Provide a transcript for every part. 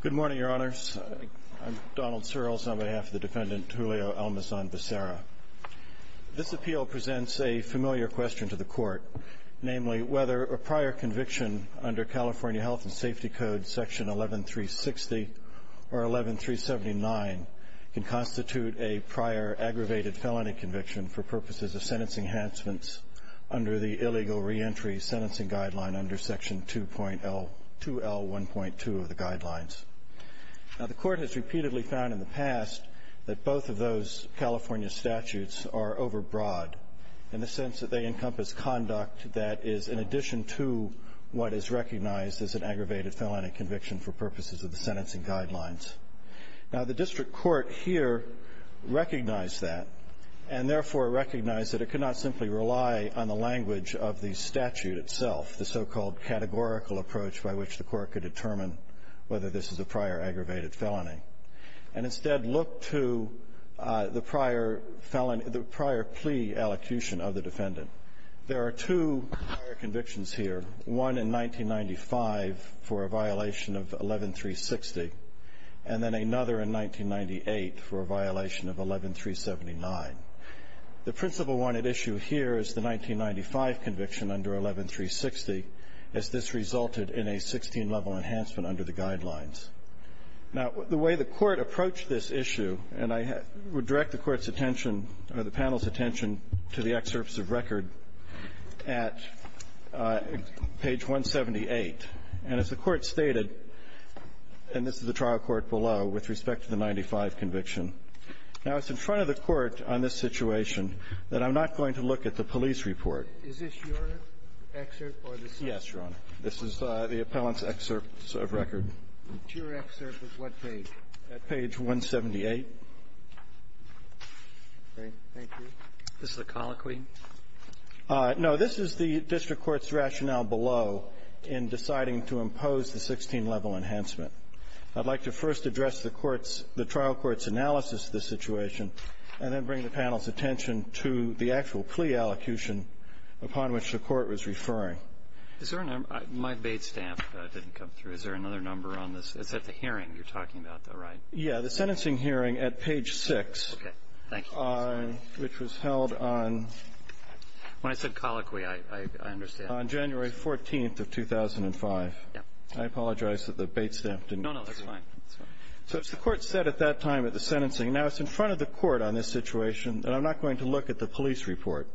Good morning, Your Honors. I'm Donald Searles on behalf of the defendant Julio Almazan-Becerra. This appeal presents a familiar question to the Court, namely whether a prior conviction under California Health and Safety Code Section 11360 or 11379 can constitute a prior aggravated felony conviction for purposes of sentencing enhancements under the Illegal Reentry Sentencing Guideline under Section 2L1.2 of the Guidelines. Now, the Court has repeatedly found in the past that both of those California statutes are overbroad in the sense that they encompass conduct that is in addition to what is recognized as an aggravated felony conviction for purposes of the sentencing guidelines. Now, the District Court here recognized that and therefore recognized that it could not simply rely on the language of the statute itself, the so-called categorical approach by which the Court could determine whether this is a prior aggravated felony, and instead look to the prior plea allocution of the defendant. There are two prior convictions here, one in 1995 for a violation of 11360 and then another in 1998 for a violation of Now, the way the Court approached this issue, and I would direct the Court's attention or the panel's attention to the excerpts of record at page 178, and as the Court stated, and this is the trial court below, with respect to the 1995 conviction. Now, it's in front of the Court on this situation that I'm not going to go into the details of the trial court. I'm not going to look at the police report. Is this your excerpt or the subject? Yes, Your Honor. This is the appellant's excerpts of record. Your excerpt is what page? At page 178. Okay. Thank you. Is this the colloquy? No. This is the district court's rationale below in deciding to impose the 16-level enhancement. I'd like to first address the court's the trial court's analysis of this situation and then bring the panel's attention to the actual plea allocution upon which the Court was referring. Is there a number? My bait stamp didn't come through. Is there another number on this? It's at the hearing you're talking about, though, right? Yeah. The sentencing hearing at page 6. Okay. Thank you. Which was held on ---- When I said colloquy, I understand. On January 14th of 2005. Yeah. I apologize that the bait stamp didn't come through. No, no. That's fine. So as the Court said at that time at the sentencing, now it's in front of the Court on this situation, and I'm not going to look at the police report.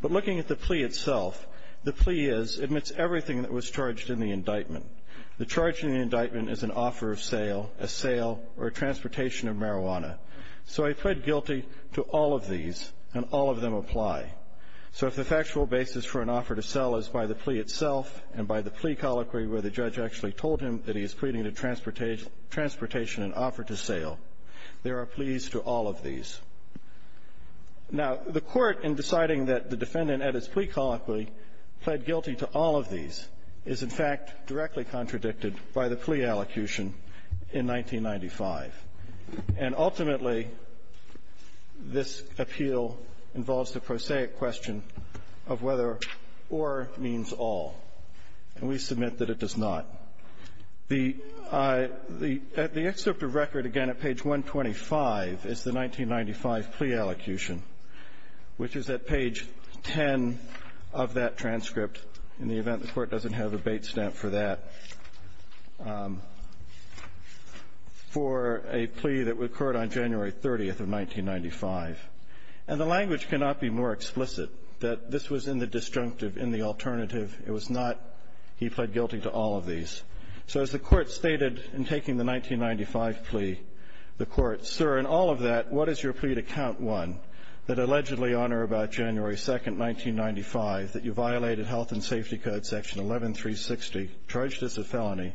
But looking at the plea itself, the plea is, admits everything that was charged in the indictment. The charge in the indictment is an offer of sale, a sale, or a transportation of marijuana. So I pled guilty to all of these, and all of them apply. So if the factual basis for an offer to sell is by the plea itself and by the plea colloquy where the judge actually told him that he is pleading to transportation an offer to sale, there are pleas to all of these. Now, the Court, in deciding that the defendant, at his plea colloquy, pled guilty to all of these is, in fact, directly contradicted by the plea allocution in 1995. And ultimately, this appeal involves the prosaic question of whether or means all. And we submit that it does not. The excerpt of record, again, at page 125 is the 1995 plea allocation, which is at page 10 of that transcript, in the event the Court doesn't have a bait stamp for that, for a plea that occurred on January 30th of 1995. And the language cannot be more explicit that this was in the disjunctive in the alternative. It was not. He pled guilty to all of these. So as the Court stated in taking the 1995 plea, the Court, sir, in all of that, what is your plea to count one, that allegedly on or about January 2nd, 1995, that you violated health and safety code section 11360, charged as a felony,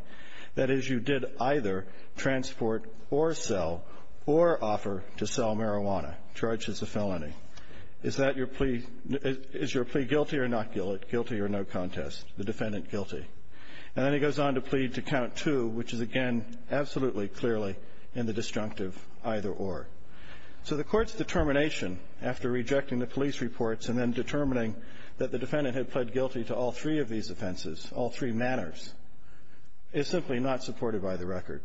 that is, you did either transport or sell or offer to sell marijuana, charged as a felony. Is your plea guilty or not guilty, guilty or no contest, the defendant guilty. And then he goes on to plead to count two, which is, again, absolutely clearly in the disjunctive either or. So the Court's determination after rejecting the police reports and then determining that the defendant had pled guilty to all three of these offenses, all three manners, is simply not supported by the record.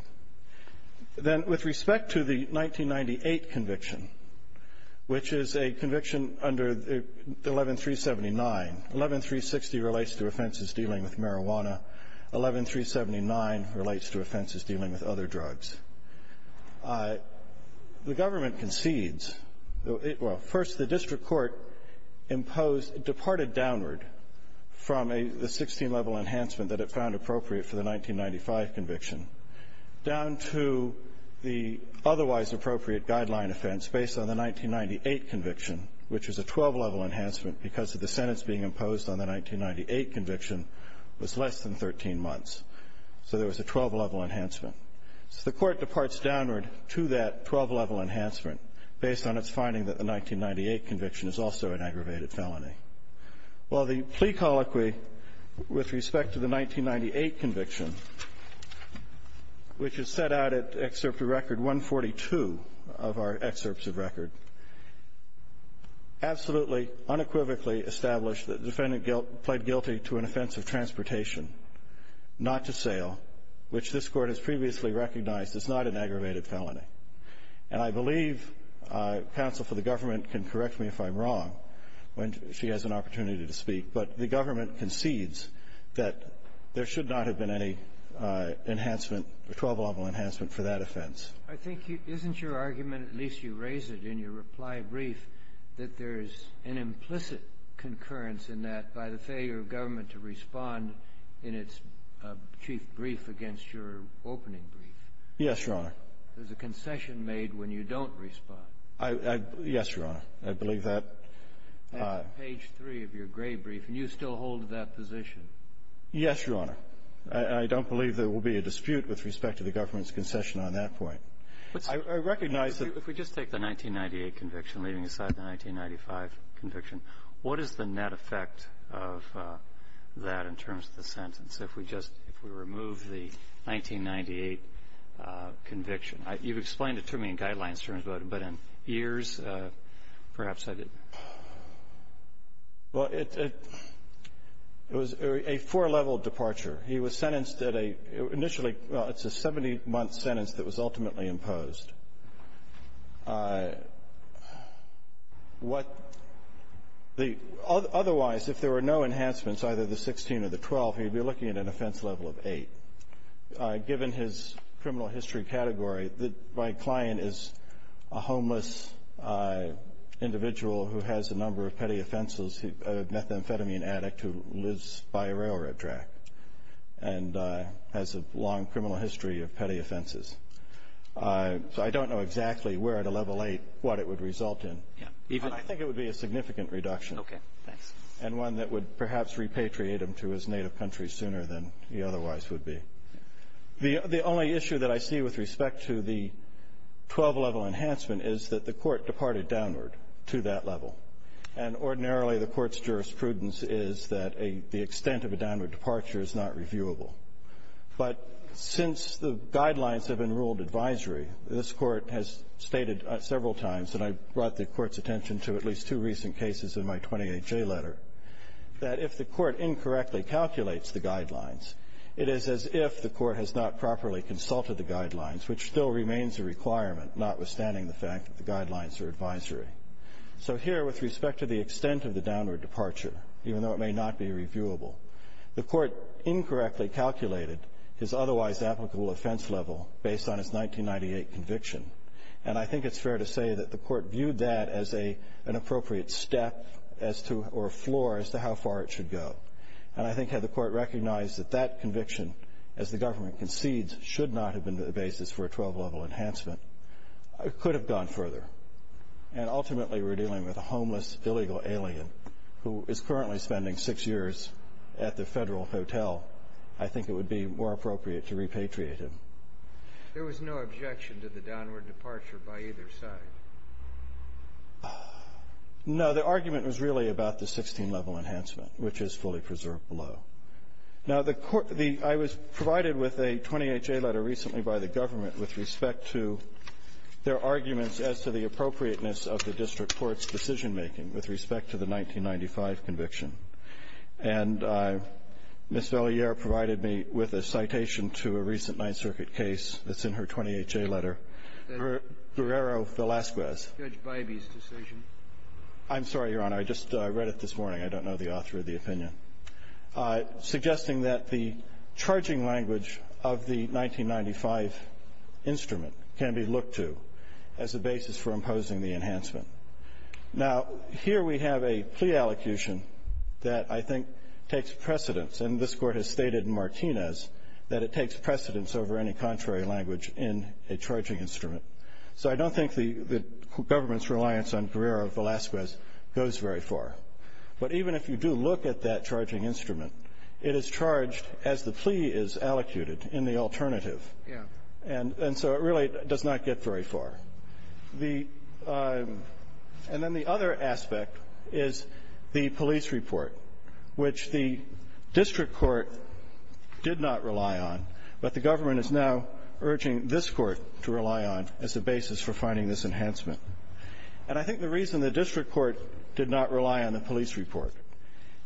Then with respect to the 1998 conviction, which is a conviction under 11379, 11360 relates to offenses dealing with marijuana. 11379 relates to offenses dealing with other drugs. The government concedes, well, first, the district court departed downward from the 16-level enhancement that it found appropriate for the 1995 conviction. Down to the otherwise appropriate guideline offense based on the 1998 conviction, which is a 12-level enhancement because of the sentence being imposed on the 1998 conviction was less than 13 months, so there was a 12-level enhancement. So the court departs downward to that 12-level enhancement based on its finding that the 1998 conviction is also an aggravated felony. Well, the plea colloquy with respect to the 1998 conviction, which is set out at Excerpt of Record 142 of our excerpts of record, absolutely unequivocally established that the defendant pled guilty to an offense of transportation, not to sale, which this court has previously recognized as not an aggravated felony. And I believe counsel for the government can correct me if I'm wrong when she has an opportunity to speak, but the government concedes that there should not have been any enhancement, 12-level enhancement for that offense. I think isn't your argument, at least you raise it in your reply brief, that there is an implicit concurrence in that by the failure of government to respond in its chief brief against your opening brief? Yes, Your Honor. There's a concession made when you don't respond. Yes, Your Honor. I believe that. Page 3 of your gray brief, and you still hold that position. Yes, Your Honor. I don't believe there will be a dispute with respect to the government's concession on that point. I recognize that. If we just take the 1998 conviction, leaving aside the 1995 conviction, what is the net effect of that in terms of the sentence if we just, if we remove the 1998 conviction? You've explained it to me in guidelines terms, but in years, perhaps I didn't. Well, it was a four-level departure. He was sentenced at a, initially, well, it's a 70-month sentence that was ultimately imposed. What the, otherwise, if there were no enhancements, either the 16 or the 12, he'd be looking at an offense level of 8. Given his criminal history category, my client is a homeless individual who has a number of petty offenses, a methamphetamine addict who lives by a railroad track and has a long criminal history of petty offenses. So, I don't know exactly where, at a level 8, what it would result in. Yeah, even. I think it would be a significant reduction. Okay, thanks. And one that would perhaps repatriate him to his native country sooner than he otherwise would be. The only issue that I see with respect to the 12-level enhancement is that the court departed downward to that level. And ordinarily, the court's jurisprudence is that the extent of a downward departure is not reviewable. But since the guidelines have been ruled advisory, this court has stated several times, and I brought the court's attention to at least two recent cases in my 28-J letter, that if the court incorrectly calculates the guidelines, it is as if the court has not properly consulted the guidelines, which still remains a requirement, notwithstanding the fact that the guidelines are advisory. So here, with respect to the extent of the downward departure, even though it may not be reviewable, the court incorrectly calculated his otherwise applicable offense level based on his 1998 conviction. And I think it's fair to say that the court viewed that as an appropriate step as to or a floor as to how far it should go. And I think had the court recognized that that conviction, as the government concedes, should not have been the basis for a 12-level enhancement, it could have gone further. And ultimately, we're dealing with a homeless, illegal alien who is currently spending six years at the federal hotel, I think it would be more appropriate to repatriate him. There was no objection to the downward departure by either side? No, the argument was really about the 16-level enhancement, which is fully preserved below. Now, I was provided with a 20HA letter recently by the government with respect to their arguments as to the appropriateness of the district court's decision-making with respect to the 1995 conviction. And Ms. Velliere provided me with a citation to a recent Ninth Circuit case that's in her 20HA letter. Guerrero-Velasquez. Judge Bybee's decision. I'm sorry, Your Honor. I just read it this morning. I don't know the author of the opinion. Suggesting that the charging language of the 1995 instrument can be looked to as a basis for imposing the enhancement. Now, here we have a plea allocution that I think takes precedence. And this court has stated in Martinez that it takes precedence over any contrary language in a charging instrument. So I don't think the government's reliance on Guerrero-Velasquez goes very far. But even if you do look at that charging instrument, it is charged as the plea is allocated in the alternative. Yeah. And so it really does not get very far. The – and then the other aspect is the police report, which the district court did not rely on, but the government is now urging this court to rely on as a basis for finding this enhancement. And I think the reason the district court did not rely on the police report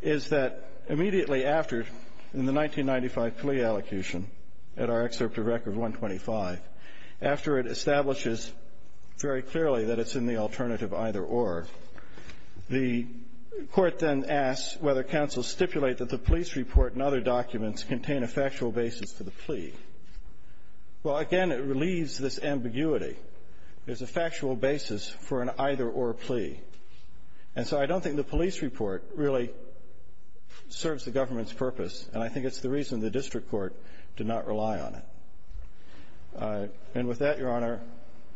is that immediately after, in the 1995 plea allocation, at our excerpt of Record 125, after it establishes very clearly that it's in the alternative either or, the court then asks whether counsel stipulate that the police report and other documents contain a factual basis for the plea. Well, again, it relieves this ambiguity. There's a factual basis for an either or plea. And so I don't think the police report really serves the government's purpose. And I think it's the reason the district court did not rely on it. And with that, Your Honor,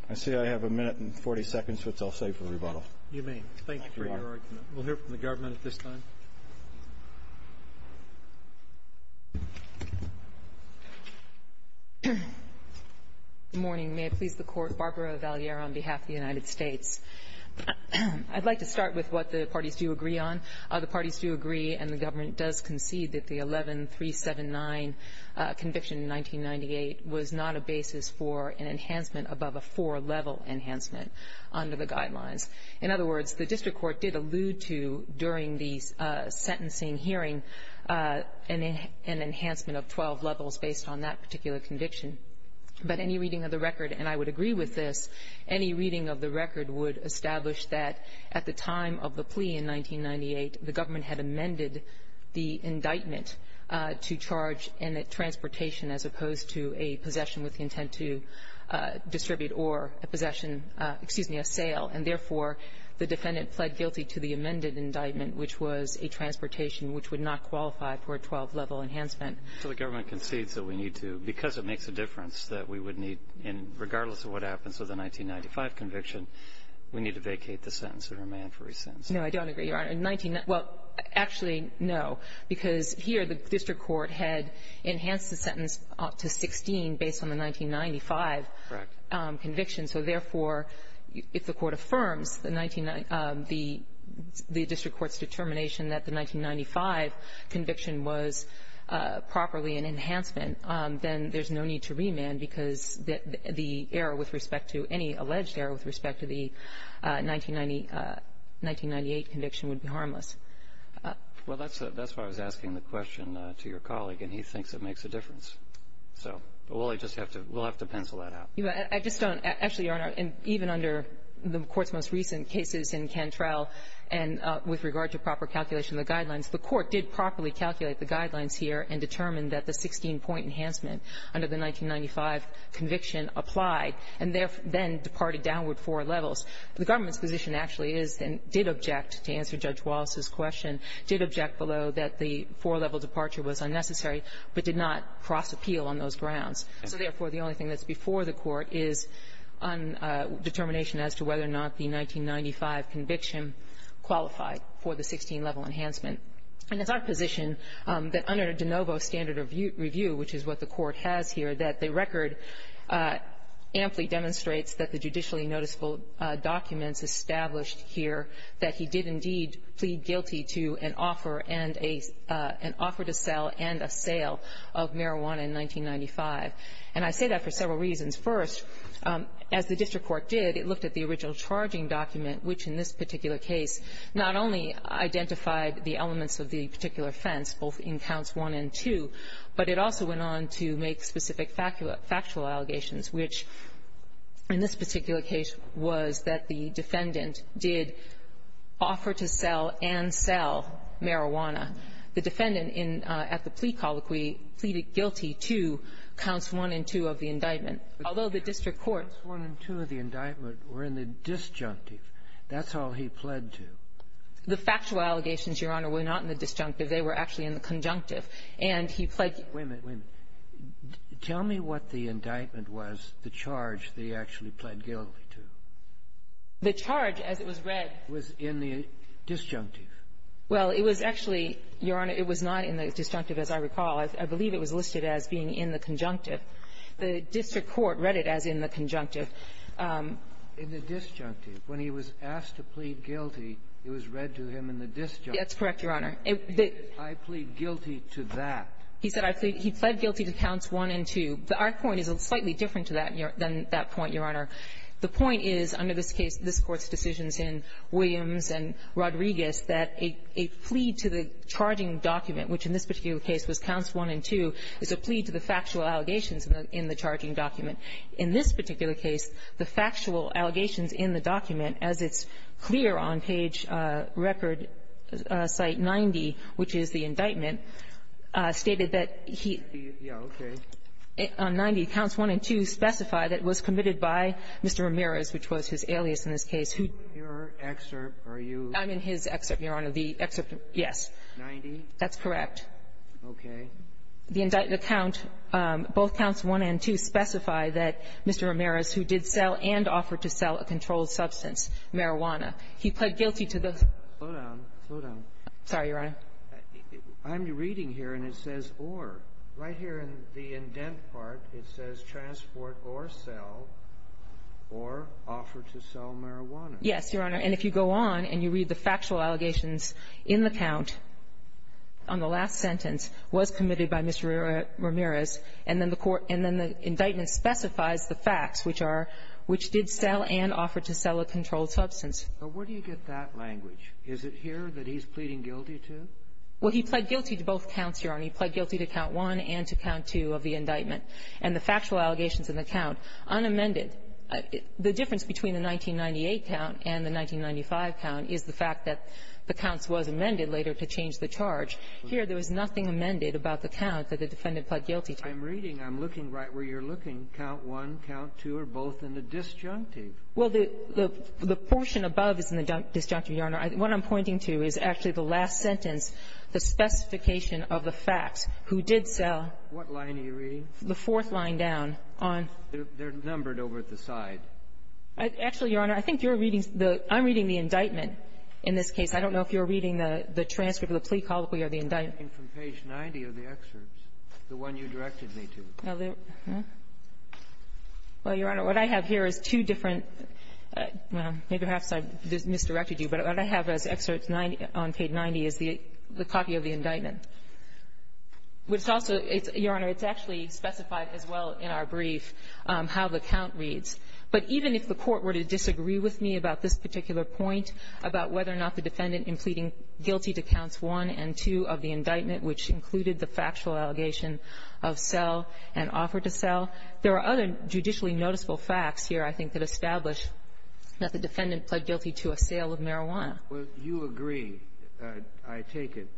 I see I have a minute and 40 seconds, which I'll save for rebuttal. You may. Thank you for your argument. We'll hear from the government at this time. Good morning. May it please the Court. Barbara Valliere on behalf of the United States. I'd like to start with what the parties do agree on. The parties do agree and the government does concede that the 11379 conviction in 1998 was not a basis for an enhancement above a four-level enhancement under the guidelines. In other words, the district court did allude to, during the sentencing hearing, an enhancement of 12 levels based on that particular conviction. But any reading of the record, and I would agree with this, any reading of the record would establish that at the time of the plea in 1998, the government had amended the indictment to charge in transportation as opposed to a possession with the intent to distribute or a possession, excuse me, a sale, and therefore the defendant pled guilty to the amended indictment, which was a transportation which would not qualify for a 12-level enhancement. So the government concedes that we need to, because it makes a difference that we would need in regardless of what happens with a 1995 conviction, we need to vacate the sentence and remain free since. No, I don't agree, Your Honor. In 1990, well, actually, no, because here the district court had enhanced the sentence up to 16 based on the 1995 conviction. So therefore, if the court affirms the district court's determination that the 1995 conviction was properly an enhancement, then there's no need to remand because the error with respect to any alleged error with respect to the 1998 conviction would be harmless. Well, that's why I was asking the question to your colleague, and he thinks it makes a difference. So we'll just have to pencil that out. I just don't, actually, Your Honor, even under the court's most recent cases in Cantrell and with regard to proper calculation of the guidelines, the court did properly calculate the guidelines here and determined that the 16-point enhancement under the 1995 conviction applied and then departed downward four levels. The government's position actually is and did object to answer Judge Wallace's question, did object below that the four-level departure was unnecessary but did not cross appeal on those grounds. So therefore, the only thing that's before the court is a determination as to whether or not the 1995 conviction qualified for the 16-level enhancement. And it's our position that under De Novo's standard review, which is what the court has here, that the record amply demonstrates that the judicially noticeable documents established here that he did indeed plead guilty to an offer and a — an offer to sell and a sale of marijuana in 1995. And I say that for several reasons. First, as the district court did, it looked at the original charging document, which in this particular case not only identified the elements of the particular offense, both in counts one and two, but it also went on to make specific factual allegations, which in this particular case was that the defendant did offer to sell and sell marijuana. The defendant in — at the plea colloquy pleaded guilty to counts one and two of the indictment. Although the district court — The counts one and two of the indictment were in the disjunctive. That's all he pled to. The factual allegations, Your Honor, were not in the disjunctive. They were actually in the conjunctive. And he pled — Wait a minute. Tell me what the indictment was, the charge that he actually pled guilty to. The charge, as it was read — Was in the disjunctive. Well, it was actually, Your Honor, it was not in the disjunctive, as I recall. I believe it was listed as being in the conjunctive. The district court read it as in the conjunctive. In the disjunctive, when he was asked to plead guilty, it was read to him in the disjunctive. That's correct, Your Honor. I plead guilty to that. He said he pled guilty to counts one and two. Our point is slightly different to that than that point, Your Honor. The point is, under this case, this Court's decisions in Williams and Rodriguez, that a plea to the charging document, which in this particular case was counts one and two, is a plea to the factual allegations in the charging document. In this particular case, the factual allegations in the document, as it's clear on page record site 90, which is the indictment, stated that he — Yeah, okay. On 90, counts one and two specify that it was committed by Mr. Ramirez, which was his alias in this case, who — Your excerpt, are you — I'm in his excerpt, Your Honor. The excerpt, yes. 90? That's correct. Okay. The count, both counts one and two, specify that Mr. Ramirez, who did sell and offered to sell a controlled substance, marijuana, he pled guilty to the — Slow down. Slow down. Sorry, Your Honor. I'm reading here, and it says, or. Right here in the indent part, it says, transport or sell, or offer to sell marijuana. Yes, Your Honor. And if you go on and you read the factual allegations in the count on the last sentence, was committed by Mr. Ramirez, and then the court — and then the indictment specifies the facts, which are — which did sell and offer to sell a controlled substance. But where do you get that language? Is it here that he's pleading guilty to? Well, he pled guilty to both counts, Your Honor. He pled guilty to count one and to count two of the indictment. And the factual allegations in the count, unamended. The difference between the 1998 count and the 1995 count is the fact that the counts was amended later to change the charge. Here, there was nothing amended about the count that the defendant pled guilty to. I'm reading. I'm looking right where you're looking. Count one, count two are both in the disjunctive. Well, the — the portion above is in the disjunctive, Your Honor. What I'm pointing to is actually the last sentence, the specification of the facts, who did sell. What line are you reading? The fourth line down on — They're numbered over at the side. Actually, Your Honor, I think you're reading the — I'm reading the indictment in this case. I don't know if you're reading the transcript of the plea colloquy or the indictment. I'm reading from page 90 of the excerpts, the one you directed me to. Well, Your Honor, what I have here is two different — well, maybe perhaps I misdirected you, but what I have as excerpts on page 90 is the copy of the indictment. It's also — Your Honor, it's actually specified as well in our brief how the count reads. But even if the Court were to disagree with me about this particular point, about whether or not the defendant in pleading guilty to counts one and two of the indictment, which included the factual allegation of sell and offer to sell, there are other judicially noticeable facts here, I think, that establish that the defendant pled guilty to a sale of marijuana. Well, you agree, I take it,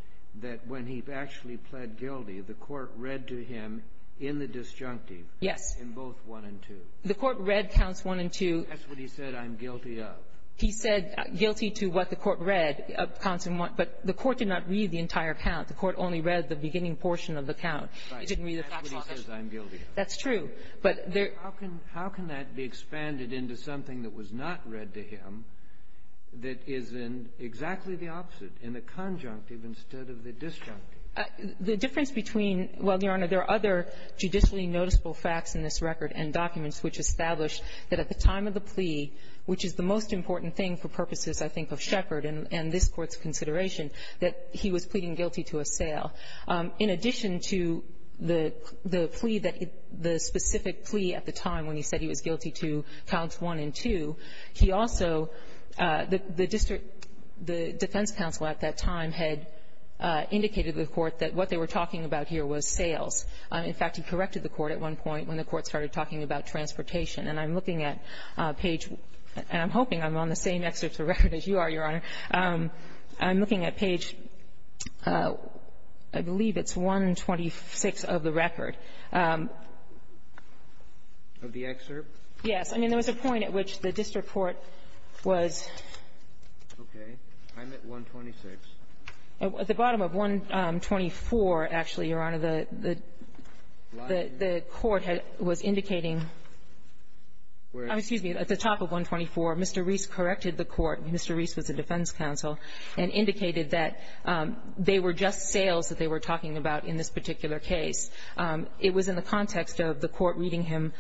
that when he actually pled guilty, the Court read to him in the disjunctive — Yes. — in both one and two. The Court read counts one and two. That's what he said, I'm guilty of. He said guilty to what the Court read of counts in one. But the Court did not read the entire count. The Court only read the beginning portion of the count. Right. It didn't read the factual allegation. That's what he says, I'm guilty of. That's true. But there — How can — how can that be expanded into something that was not read to him that is in exactly the opposite, in the conjunctive instead of the disjunctive? The difference between — well, Your Honor, there are other judicially noticeable facts in this record and documents which establish that at the time of the plea, which is the most important thing for purposes, I think, of Sheppard and this Court's consideration, that he was pleading guilty to a sale, in addition to the plea that the specific plea at the time when he said he was guilty to counts one and two, he also — the district — the defense counsel at that time had indicated to the Court that what they were talking about here was sales. In fact, he corrected the Court at one point when the Court started talking about transportation. And I'm looking at page — and I'm hoping I'm on the same excerpt of the record as you are, Your Honor. I'm looking at page, I believe it's 126 of the record. Of the excerpt? Yes. I mean, there was a point at which the district court was — Okay. I'm at 126. At the bottom of 124, actually, Your Honor, the court had — was indicating — Where is it? Excuse me. At the top of 124, Mr. Reese corrected the Court. Mr. Reese was the defense counsel and indicated that they were just sales that they were talking about in this particular case. It was in the context of the Court reading him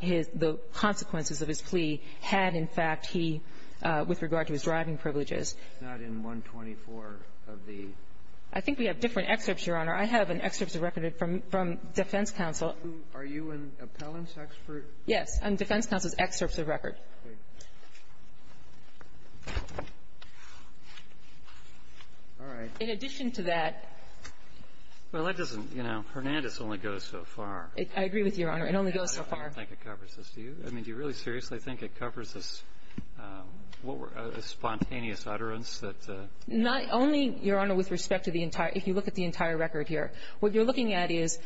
his — the consequences of his plea had, in fact, he — with regard to his driving privileges. It's not in 124 of the — I think we have different excerpts, Your Honor. I have an excerpt of record from — from defense counsel. Are you an appellant's expert? Yes. I'm defense counsel's excerpt of record. Okay. All right. In addition to that — Well, that doesn't — you know, Hernandez only goes so far. I agree with you, Your Honor. It only goes so far. I don't think it covers this. Do you? I mean, do you really seriously think it covers this spontaneous utterance that — Not only, Your Honor, with respect to the entire — if you look at the entire record here. What you're looking at is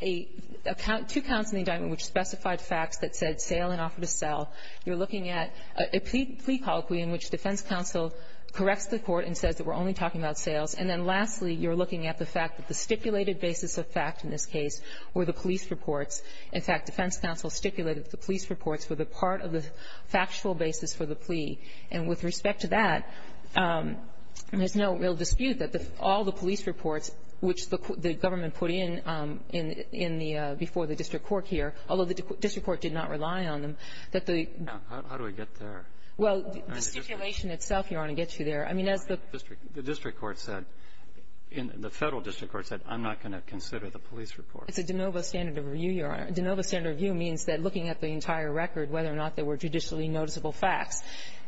a — two counts in the indictment which specified facts that said sale and offer to sell. You're looking at a plea colloquy in which defense counsel corrects the Court and says that we're only talking about sales. And then, lastly, you're looking at the fact that the stipulated basis of fact in this case were the police reports. In fact, defense counsel stipulated that the police reports were the part of the factual basis for the plea. And with respect to that, there's no real dispute that all the police reports which the government put in in the — before the district court here, although the district court did not rely on them, that the — How do I get there? Well, the stipulation itself, Your Honor, gets you there. I mean, as the — The district court said — the Federal district court said, I'm not going to consider the police reports. It's a de novo standard of review, Your Honor. De novo standard of view means that looking at the entire record, whether or not there were judicially noticeable facts.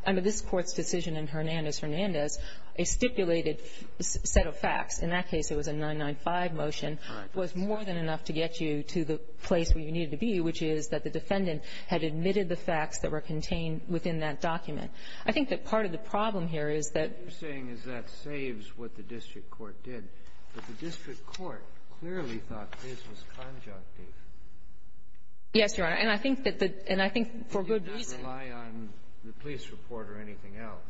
Under this Court's decision in Hernandez-Hernandez, a stipulated set of facts — in that case, it was a 995 motion — Right. — was more than enough to get you to the place where you needed to be, which is that the defendant had admitted the facts that were contained within that document. I think that part of the problem here is that — What you're saying is that saves what the district court did. But the district court clearly thought this was conjunctive. Yes, Your Honor. And I think that the — and I think for good reason — They did not rely on the police report or anything else.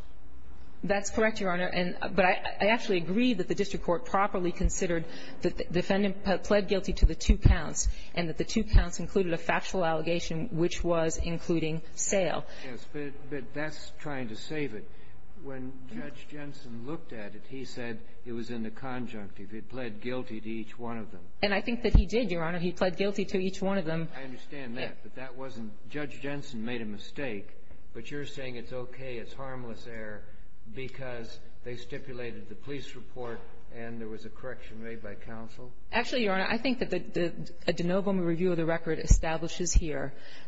That's correct, Your Honor. And — but I actually agree that the district court properly considered that the defendant pled guilty to the two counts and that the two counts included a factual allegation which was including sale. Yes. But that's trying to save it. When Judge Jensen looked at it, he said it was in the conjunctive. He pled guilty to each one of them. And I think that he did, Your Honor. He pled guilty to each one of them. I understand that. But that wasn't — Judge Jensen made a mistake. But you're saying it's okay, it's harmless error because they stipulated the police report and there was a correction made by counsel? Actually, Your Honor, I think that the de novo review of the record establishes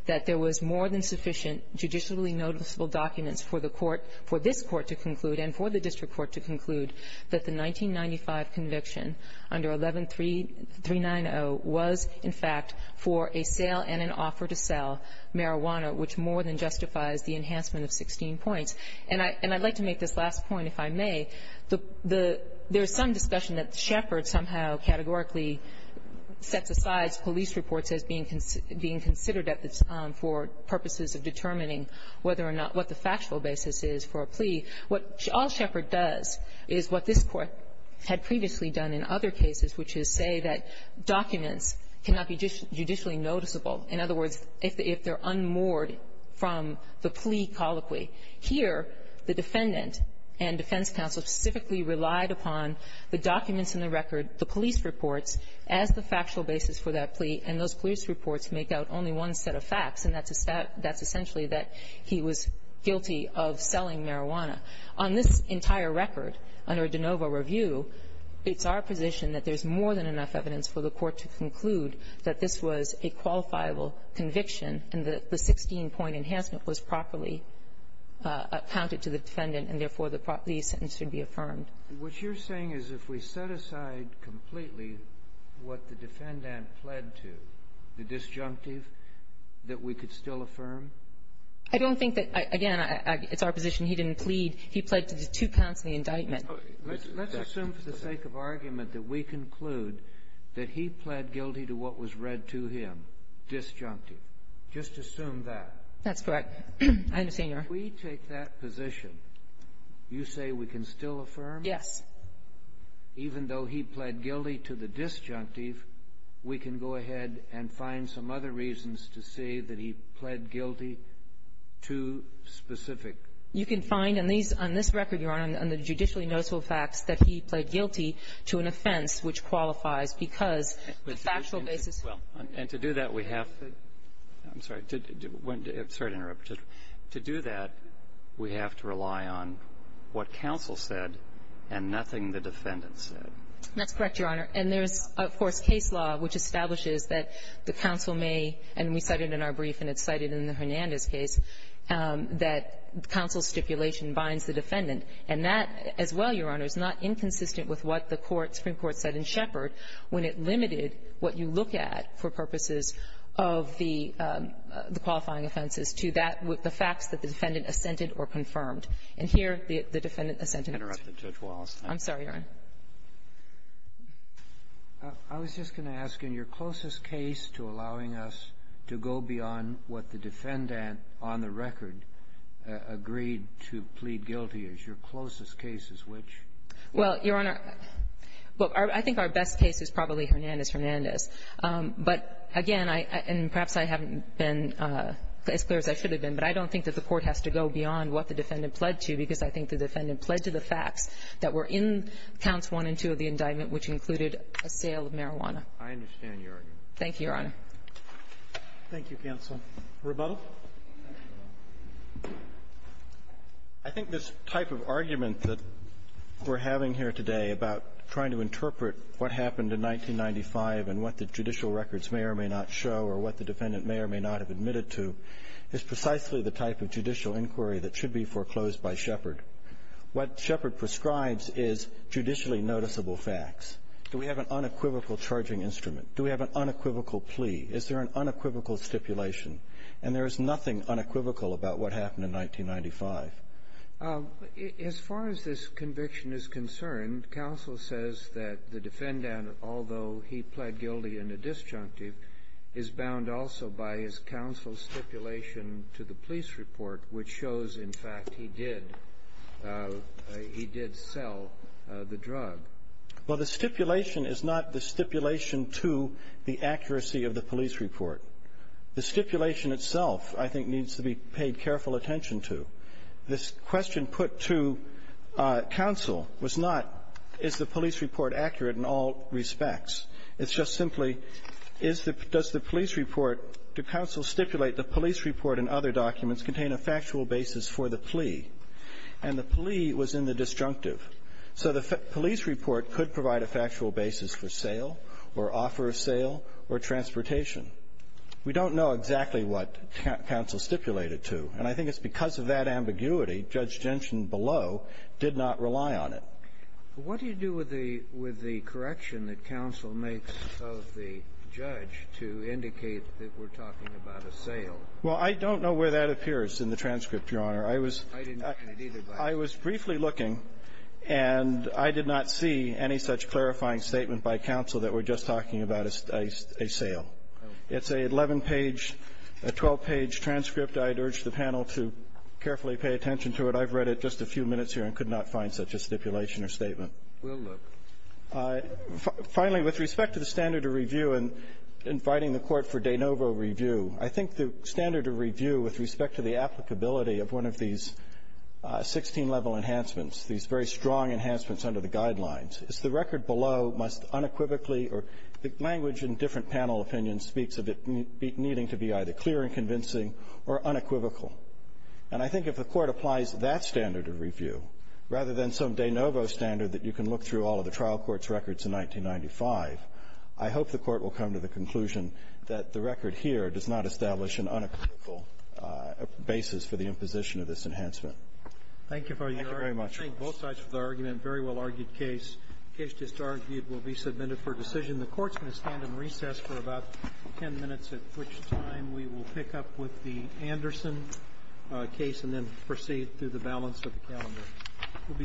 that there was more than sufficient judicially noticeable documents for the court — for this court to conclude and for the district court to conclude that the 1995 conviction under 11-390 was, in fact, for a sale and an offer to sell marijuana, which more than justifies the enhancement of 16 points. And I — and I'd like to make this last point, if I may. The — there is some discussion that Shepard somehow categorically sets aside police reports as being considered at this time for purposes of determining whether or not what the factual basis is for a plea. What all Shepard does is what this Court had previously done in other cases, which is say that documents cannot be judicially noticeable. In other words, if they're unmoored from the plea colloquy. Here, the defendant and defense counsel specifically relied upon the documents in the record, the police reports, as the factual basis for that plea. And those police reports make out only one set of facts, and that's a — that's essentially that he was guilty of selling marijuana. On this entire record, under de novo review, it's our position that there's more than enough evidence for the court to conclude that this was a qualifiable conviction and that the 16-point enhancement was properly accounted to the defendant, and therefore, the sentence should be affirmed. What you're saying is if we set aside completely what the defendant pled to, the disjunctive, that we could still affirm? I don't think that — again, it's our position he didn't plead. He pled to the two counts of the indictment. Let's assume for the sake of argument that we conclude that he pled guilty to what was read to him, disjunctive. Just assume that. That's correct. I understand your argument. If we take that position, you say we can still affirm? Yes. Even though he pled guilty to the disjunctive, we can go ahead and find some other reasons to say that he pled guilty to specific — You can find on these — on this record, Your Honor, on the judicially noticeable facts that he pled guilty to an offense which qualifies because the factual basis Well, and to do that, we have to — I'm sorry. To do — I'm sorry to interrupt. To do that, we have to rely on what counsel said and nothing the defendant said. That's correct, Your Honor. And there's, of course, case law which establishes that the counsel may — and we cited in our brief, and it's cited in the Hernandez case, that counsel's stipulation binds the defendant. And that, as well, Your Honor, is not inconsistent with what the court, Supreme Court, has to look at for purposes of the qualifying offenses to that — the facts that the defendant assented or confirmed. And here, the defendant assented. I'm sorry, Your Honor. I was just going to ask, in your closest case to allowing us to go beyond what the defendant on the record agreed to plead guilty, is your closest case is which? Well, Your Honor, I think our best case is probably Hernandez-Hernandez. But, again, I — and perhaps I haven't been as clear as I should have been, but I don't think that the court has to go beyond what the defendant pledged to because I think the defendant pledged to the facts that were in counts 1 and 2 of the indictment, which included a sale of marijuana. I understand your argument. Thank you, Your Honor. Thank you, counsel. Rebuttal. I think this type of argument that we're having here today about trying to interpret what happened in 1995 and what the judicial records may or may not show or what the defendant may or may not have admitted to is precisely the type of judicial inquiry that should be foreclosed by Shepard. What Shepard prescribes is judicially noticeable facts. Do we have an unequivocal charging instrument? Do we have an unequivocal plea? Is there an unequivocal stipulation? And there is nothing unequivocal about what happened in 1995. As far as this conviction is concerned, counsel says that the defendant, although he pled guilty in a disjunctive, is bound also by his counsel's stipulation to the police report, which shows, in fact, he did — he did sell the drug. Well, the stipulation is not the stipulation to the accuracy of the police report. The stipulation itself, I think, needs to be paid careful attention to. This question put to counsel was not, is the police report accurate in all respects? It's just simply, is the — does the police report — do counsel stipulate the police report and other documents contain a factual basis for the plea? And the plea was in the disjunctive. So the police report could provide a factual basis for sale or offer of sale or transportation. We don't know exactly what counsel stipulated to. And I think it's because of that ambiguity, Judge Genshin below did not rely on it. What do you do with the — with the correction that counsel makes of the judge to indicate that we're talking about a sale? Well, I don't know where that appears in the transcript, Your Honor. I was — I didn't see it either, but — I was briefly looking, and I did not see any such clarifying statement by counsel that we're just talking about a — a sale. It's an 11-page, a 12-page transcript. I'd urge the panel to carefully pay attention to it. I've read it just a few minutes here and could not find such a stipulation or statement. We'll look. Finally, with respect to the standard of review and inviting the Court for de novo review, I think the standard of review with respect to the applicability of one of these 16-level enhancements, these very strong enhancements under the Guidelines, is the record below must unequivocally — or the language in different panel opinions speaks of it needing to be either clear and convincing or unequivocal. And I think if the Court applies that standard of review rather than some de novo standard that you can look through all of the trial court's records in 1995, I hope the Court will come to the conclusion that the record here does not establish an unequivocal basis for the imposition of this enhancement. Thank you very much. I thank both sides for the argument. Very well-argued case. The case just argued will be submitted for decision. The Court's going to stand in recess for about 10 minutes, at which time we will pick up with the Anderson case and then proceed through the balance of the calendar. We'll be back.